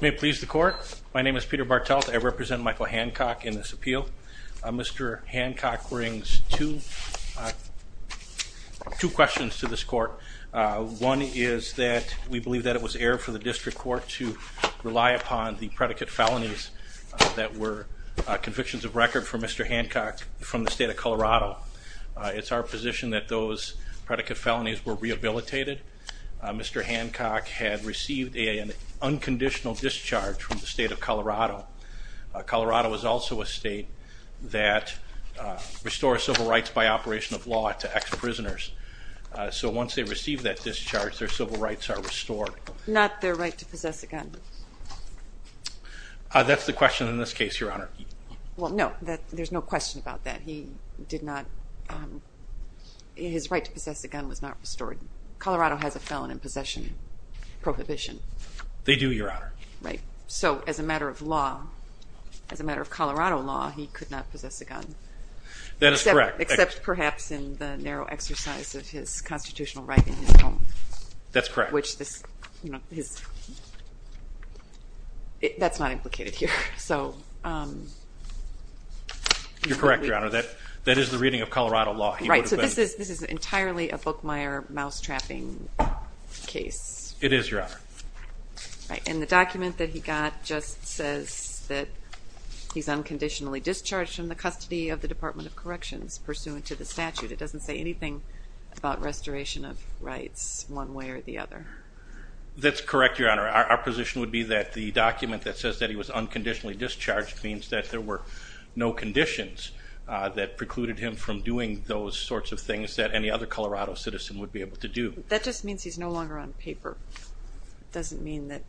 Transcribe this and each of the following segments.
May it please the court. My name is Peter Bartelt. I represent Michael Hancock in this appeal. Mr. Hancock brings two questions to this court. One is that we believe that it was error for the district court to rely upon the predicate felonies that were convictions of record for Mr. Hancock from the state of Colorado. It's our position that those predicate felonies were rehabilitated. Mr. Hancock had received an unconditional discharge from the state of Colorado. Colorado is also a state that restores civil rights by operation of law to ex-prisoners. So once they receive that discharge, their civil rights are restored. Not their right to possess a gun. That's the question in this case, Your Honor. Well no, there's no question about that. He did not, his right to possess a gun was not restored. Colorado has a felon in possession prohibition. They do, Your Honor. Right, so as a matter of law, as a matter of Colorado law, he could not possess a gun. That is correct. Except perhaps in the narrow exercise of his constitutional right in his home. That's correct. Which this, you know, that's not implicated here. You're correct, Your Honor. That is the reading of Colorado law. Right, so this is this is entirely a Bookmire mousetrapping case. It is, Your Honor. And the document that he got just says that he's unconditionally discharged from the custody of the Department of Corrections pursuant to the statute. It doesn't say anything about restoration of rights one way or the other. That's correct, Your Honor. Our position would be that the document that says that he was unconditionally discharged means that there were no conditions that precluded him from doing those sorts of things that any other Colorado citizen would be able to do. That just means he's no longer on paper. Doesn't mean that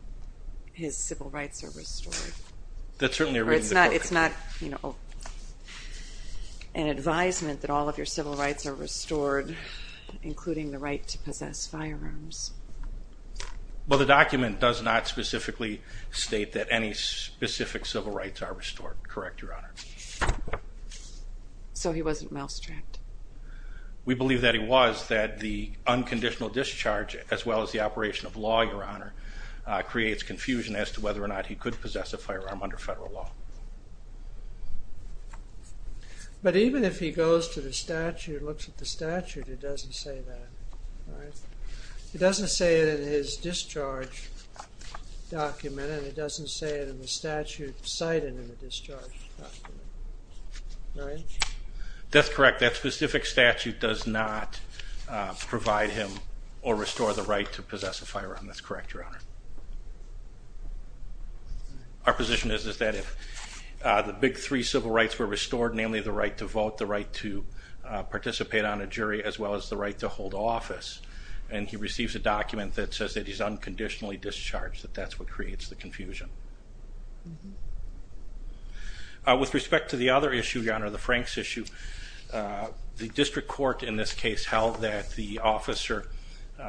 his civil rights are restored. That's certainly a reading. It's not, it's not, you know, an advisement that all of your civil rights are restored, including the right to possess firearms. Well, the document does not specifically state that any specific civil rights are restored. Correct, Your Honor. So he wasn't mousetrapped. We believe that he was, that the unconditional discharge, as well as the operation of law, Your Honor, creates confusion as to whether or not he could That's correct. That specific statute does not provide him or restore the right to possess a firearm. That's correct, Your Honor. Our position is that if the big three civil rights were restored, namely the right to vote, the right to participate on a jury, as well as the right to hold office, and he receives a document that says that he's unconditionally discharged, that that's what creates the confusion. With respect to the other issue, Your Honor, the Franks issue, the district court in this case held that the officer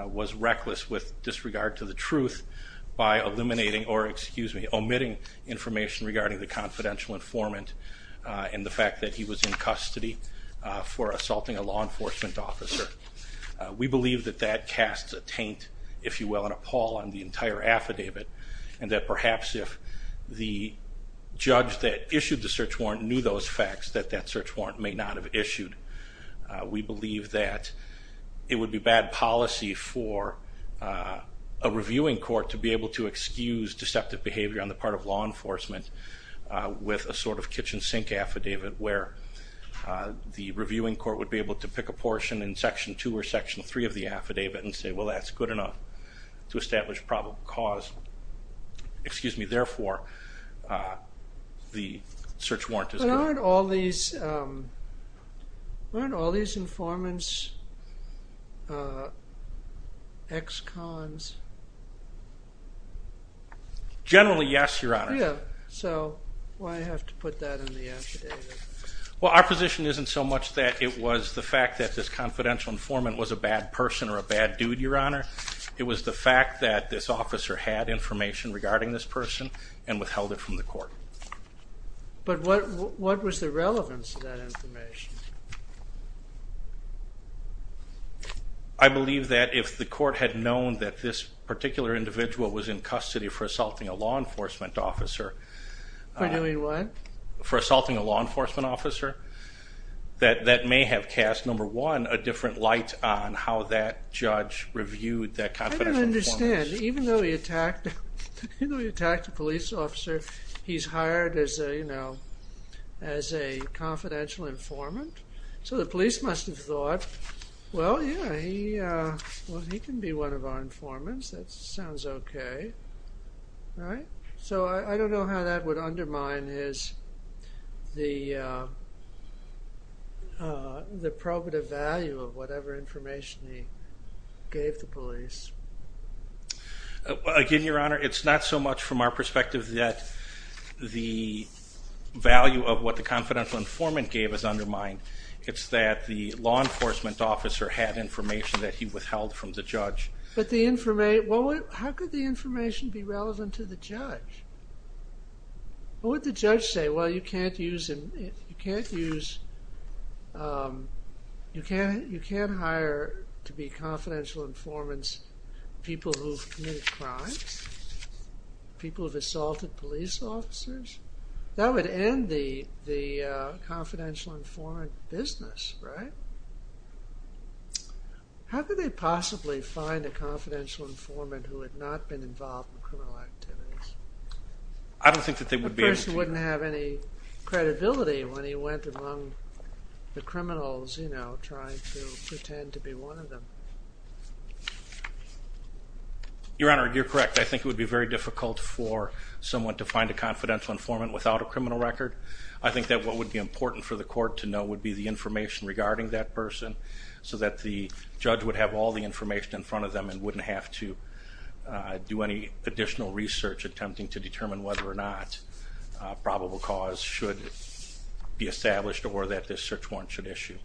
was reckless with disregard to the truth by eliminating, or excuse me, omitting information regarding the confidential informant and the fact that he was in custody for assaulting a law enforcement officer. We believe that that casts a taint, if you will, and a pall on the entire affidavit, and that perhaps if the judge that issued the search warrant knew those facts, that that search warrant may not have issued. We believe that it would be bad policy for a reviewing court to be able to excuse deceptive behavior on the part of law enforcement with a sort of kitchen sink affidavit, where the reviewing court would be able to pick a portion in section 2 or section 3 of the affidavit and say, well, that's good enough to establish probable cause. Excuse me, therefore, the search warrant is... But aren't all these informants ex-cons? Generally, yes, Your Honor. Yeah, so why do I have to put that in the affidavit? Well, our position isn't so much that it was the fact that this confidential informant was a bad person or a bad dude, Your Honor. It was the fact that this officer had information regarding this court. But what was the relevance of that information? I believe that if the court had known that this particular individual was in custody for assaulting a law enforcement officer... For doing what? For assaulting a law enforcement officer, that that may have cast, number one, a different light on how that judge reviewed that confidential informant. I don't understand. Even though he attacked a police officer, he's hired as a, you know, as a confidential informant. So the police must have thought, well, yeah, he can be one of our informants. That sounds okay, right? So I don't know how that would undermine his... the probative value of whatever information he gave the police. Again, Your Honor, it's not so much from our perspective that the value of what the confidential informant gave is undermined. It's that the law enforcement officer had information that he withheld from the judge. But the information... how could the information be relevant to the judge? What would the judge say? Well, you can't use... you can't use... you can't hire to be confidential informants people who've committed crimes, people who've assaulted police officers. That would end the the confidential informant business, right? How could they possibly find a confidential informant who had not been involved in criminal activities? I don't think that they would be able to. The person wouldn't have any Your Honor, you're correct. I think it would be very difficult for someone to find a confidential informant without a criminal record. I think that what would be important for the court to know would be the information regarding that person so that the judge would have all the information in front of them and wouldn't have to do any additional research attempting to determine whether or not a probable cause should be established or that this search warrant should issue.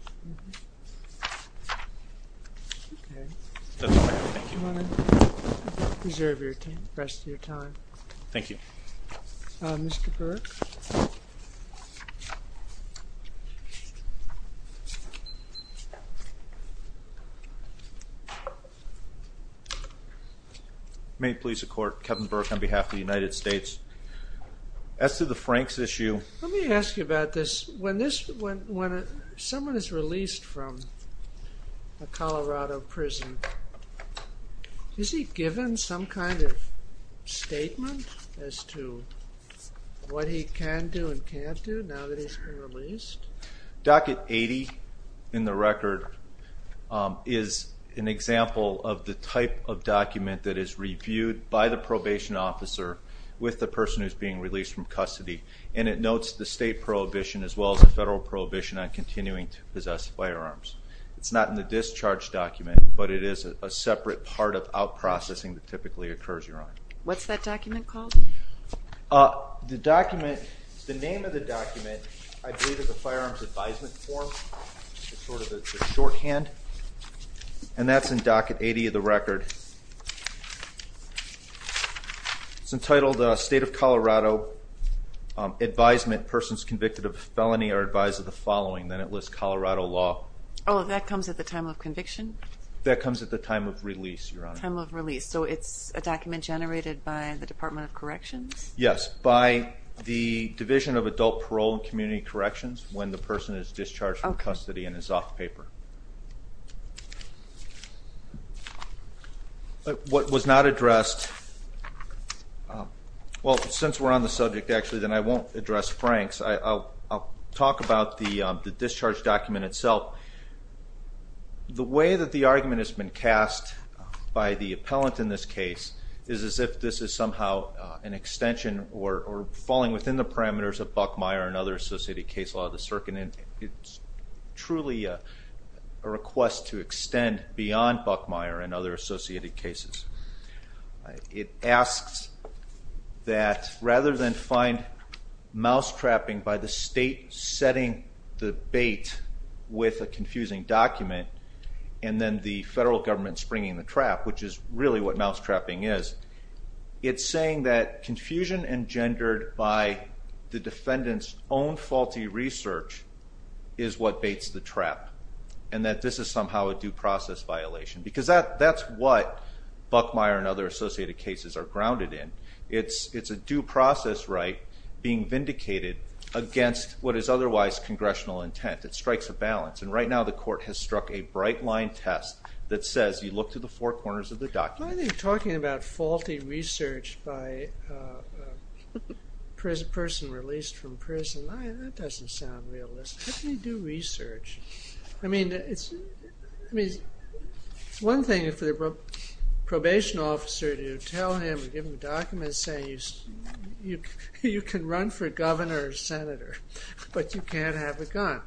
Thank you. May it please the Court, Kevin Burke on behalf of the United States. As to the Franks issue... Let me ask you about this. When someone is released from a Colorado prison, is he given some kind of statement as to what he can do and can't do now that he's been released? Docket 80 in the record is an example of the type of document that is reviewed by the probation officer with the person who is being released from custody. And it notes the state prohibition as well as the federal prohibition on continuing to possess firearms. It's not in the discharge document, but it is a separate part of out-processing that typically occurs, Your Honor. What's that document called? The name of the document, I believe, is a firearms advisement form. It's sort of a shorthand. And that's in Docket 80 of the record. It's entitled State of Colorado Advisement. Persons convicted of a felony are advised of the following. Then it lists Colorado law. Oh, that comes at the time of conviction? That comes at the time of release, Your Honor. Time of release. So it's a document generated by the Department of Corrections? Yes, by the Division of Adult Parole and Community Corrections when the person is discharged from custody and is off paper. What was not addressed, well, since we're on the subject, actually, then I won't address Frank's. I'll talk about the discharge document itself. The way that the argument has been cast by the appellant in this case is as if this is somehow an extension or falling within the parameters of Buckmeyer and other associated case law of the circuit. It's truly a request to extend beyond Buckmeyer and other associated cases. It asks that rather than find mousetrapping by the state setting the bait with a confusing document and then the federal government springing the trap, which is really what mousetrapping is, it's saying that confusion engendered by the defendant's own faulty research is what baits the trap and that this is somehow a due process violation because that's what Buckmeyer and other associated cases are grounded in. It's a due process right being vindicated against what is otherwise congressional intent. It strikes a balance and right now the court has struck a bright line test that says you look to the four corners of the document. I think talking about faulty research by a person released from prison, that doesn't sound realistic. How can you do research? I mean, it's one thing for the probation officer to tell him or give him documents saying you can run for governor or senator, but you can't have a gun.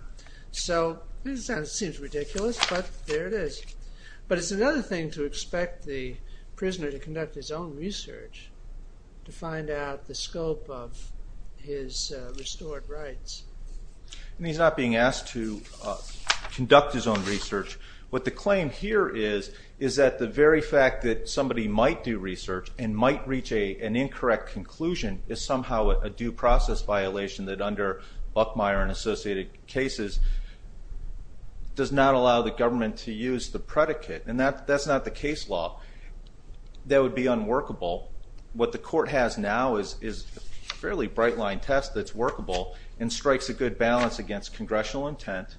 So, it seems ridiculous, but there it is. But it's another thing to expect the prisoner to conduct his own research to find out the scope of his restored rights. He's not being asked to conduct his own research. What the claim here is that the very fact that somebody might do research and might reach an incorrect conclusion is somehow a due process violation that under Buckmeyer and associated cases does not allow the government to use the predicate. And that's not the case law. That would be unworkable. What the court has now is a fairly bright line test that's workable and strikes a good balance against congressional intent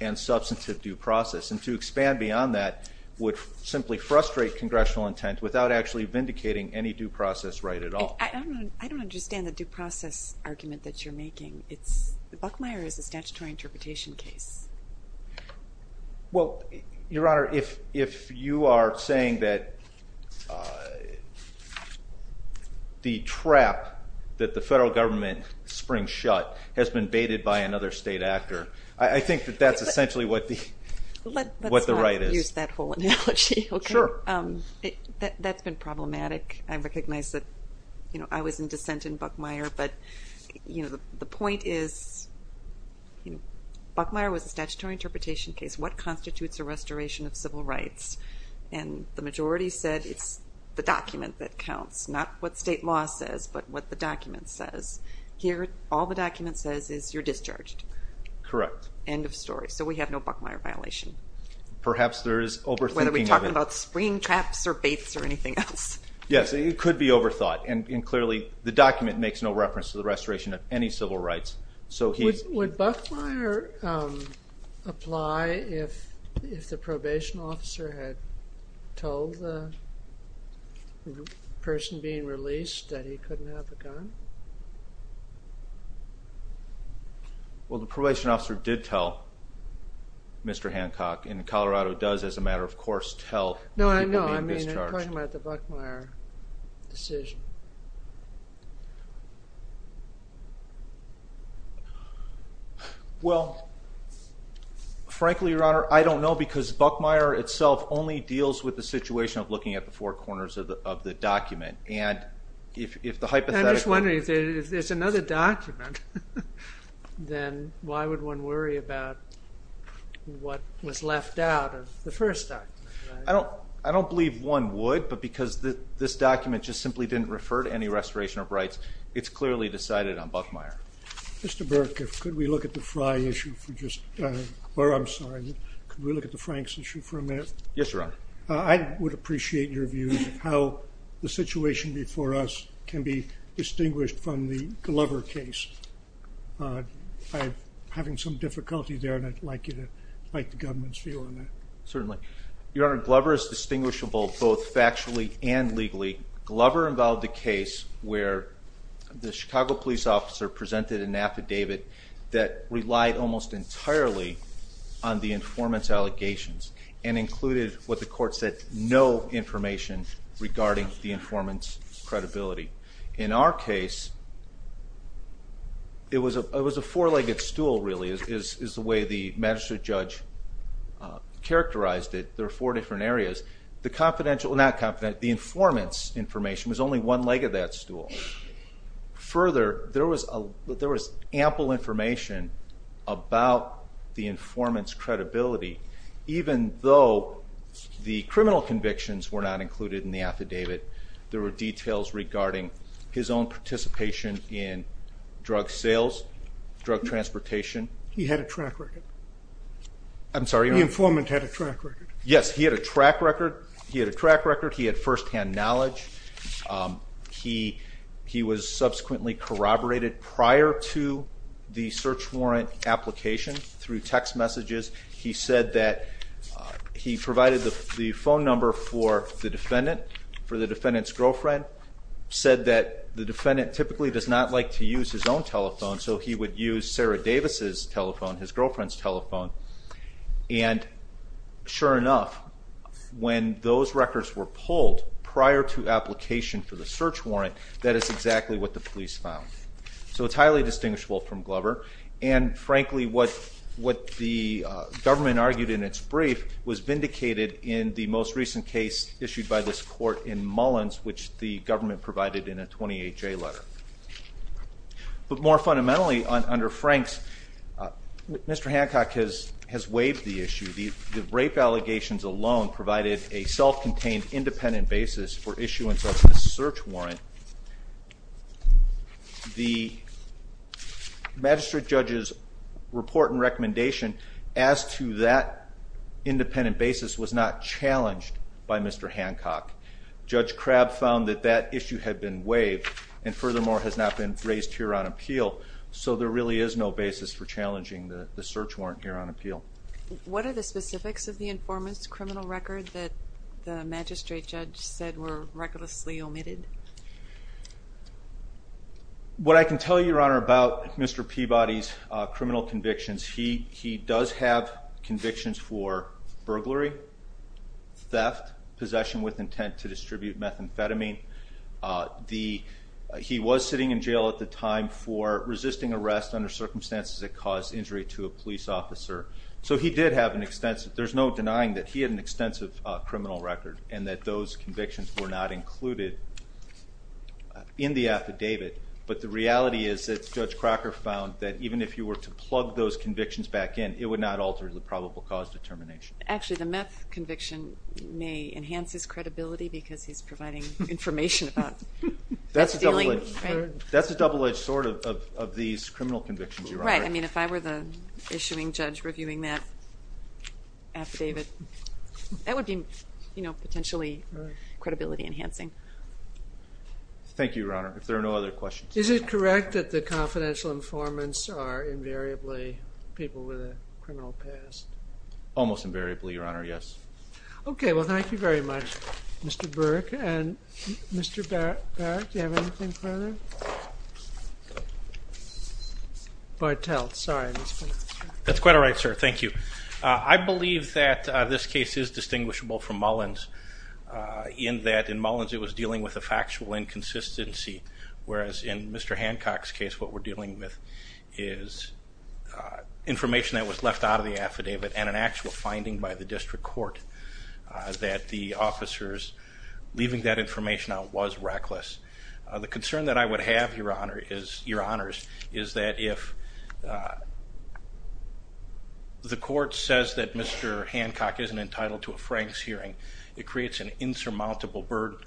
and substantive due process. And to expand beyond that would simply frustrate congressional intent without actually vindicating any due process right at all. I don't understand the due process argument that you're making. Buckmeyer is a statutory interpretation case. Well, Your Honor, if you are saying that the trap that the federal government springs shut has been baited by another state actor, I think that that's essentially what the right is. Let's not use that whole analogy. Sure. That's been problematic. I recognize that I was in dissent in Buckmeyer, but the point is Buckmeyer was a statutory interpretation case. What constitutes a restoration of civil rights? And the majority said it's the document that counts. Not what state law says, but what the document says. Here all the document says is you're discharged. Correct. End of story. So we have no Buckmeyer violation. Perhaps there is overthinking of it. Whether we're talking about spring traps or baits or anything else. Yes, it could be overthought. And clearly, the document makes no reference to the restoration of any civil rights. Would Buckmeyer apply if the probation officer had told the person being released that he couldn't have a gun? Well, the probation officer did tell Mr. Hancock. And Colorado does, as a matter of course, tell. No, I know. I'm talking about the Buckmeyer decision. Well, frankly, Your Honor, I don't know. Because Buckmeyer itself only deals with the situation of looking at the four corners of the document. And if the hypothetical... I'm just wondering, if there's another document, then why would one worry about what was left out of the first document? I don't believe one would. But because this document just simply didn't refer to any restoration of rights, it's clearly decided on Buckmeyer. Mr. Burke, could we look at the Frank's issue for a minute? Yes, Your Honor. I would appreciate your view of how the situation before us can be distinguished from the Glover case. I'm having some difficulty there, and I'd like the government's view on that. Certainly. Your Honor, Glover is distinguishable both factually and legally. Glover involved a case where the Chicago police officer presented an affidavit that relied almost entirely on the informant's allegations, and included, what the court said, no information regarding the informant's credibility. In our case, it was a four-legged stool, really, which is the way the magistrate judge characterized it. There are four different areas. The informant's information was only one leg of that stool. Further, there was ample information about the informant's credibility, even though the criminal convictions were not included in the affidavit. There were details regarding his own participation in drug sales, drug transportation. He had a track record. I'm sorry? The informant had a track record. Yes, he had a track record. He had a track record. He had firsthand knowledge. He was subsequently corroborated prior to the search warrant application through text messages. He said that he provided the phone number for the defendant, for the defendant's girlfriend, said that the defendant typically does not like to use his own telephone, so he would use Sarah Davis' telephone, his girlfriend's telephone, and sure enough, when those records were pulled prior to application for the search warrant, that is exactly what the police found. So it's highly distinguishable from Glover, and frankly, what the government argued in its brief was vindicated in the most recent case issued by this court in Mullins, which the government provided in a 28-J letter. But more fundamentally, under Franks, Mr. Hancock has waived the issue. The rape allegations alone provided a self-contained independent basis for issuance of the search warrant. The magistrate judge's report and recommendation as to that independent basis was not challenged by Mr. Hancock. Judge Crabb found that that issue had been waived and furthermore has not been raised here on appeal, so there really is no basis for challenging the search warrant here on appeal. What are the specifics of the informant's criminal record that the magistrate judge said were recklessly omitted? What I can tell you, Your Honor, about Mr. Peabody's criminal convictions, he does have convictions for burglary, theft, possession with intent to distribute methamphetamine. He was sitting in jail at the time for resisting arrest under circumstances that caused injury to a police officer. So he did have an extensive... There's no denying that he had an extensive criminal record and that those convictions were not included in the affidavit, but the reality is that Judge Crocker found that even if you were to plug those convictions back in, it would not alter the probable cause determination. Actually, the meth conviction may enhance his credibility because he's providing information about... That's a double-edged sword of these criminal convictions, Your Honor. Right. I mean, if I were the issuing judge reviewing that affidavit, that would be potentially credibility enhancing. Thank you, Your Honor. If there are no other questions... Is it correct that the confidential informants are invariably people with a criminal past? Almost invariably, Your Honor, yes. OK, well, thank you very much, Mr. Burke. And, Mr. Barrett, do you have anything further? That's quite all right, sir. Thank you. I believe that this case is distinguishable from Mullins in that in Mullins it was dealing with a factual inconsistency, whereas in Mr. Hancock's case what we're dealing with is information that was left out of the affidavit and an actual finding by the district court that the officers leaving that information out was reckless. The concern that I would have, Your Honor, is that if... If the court says that Mr. Hancock isn't entitled to a Franks hearing, it creates an insurmountable burden.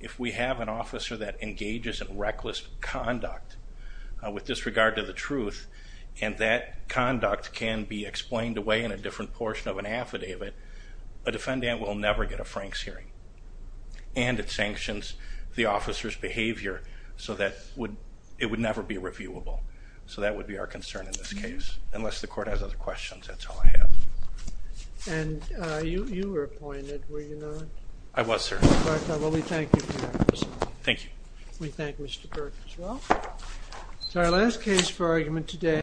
If we have an officer that engages in reckless conduct with disregard to the truth and that conduct can be explained away in a different portion of an affidavit, a defendant will never get a Franks hearing. And it sanctions the officer's behaviour so that it would never be reviewable. So that would be our concern in this case, unless the court has other questions, that's all I have. And you were appointed, were you not? I was, sir. All right, well, we thank you for that. Thank you. We thank Mr. Burke as well. So our last case for argument today...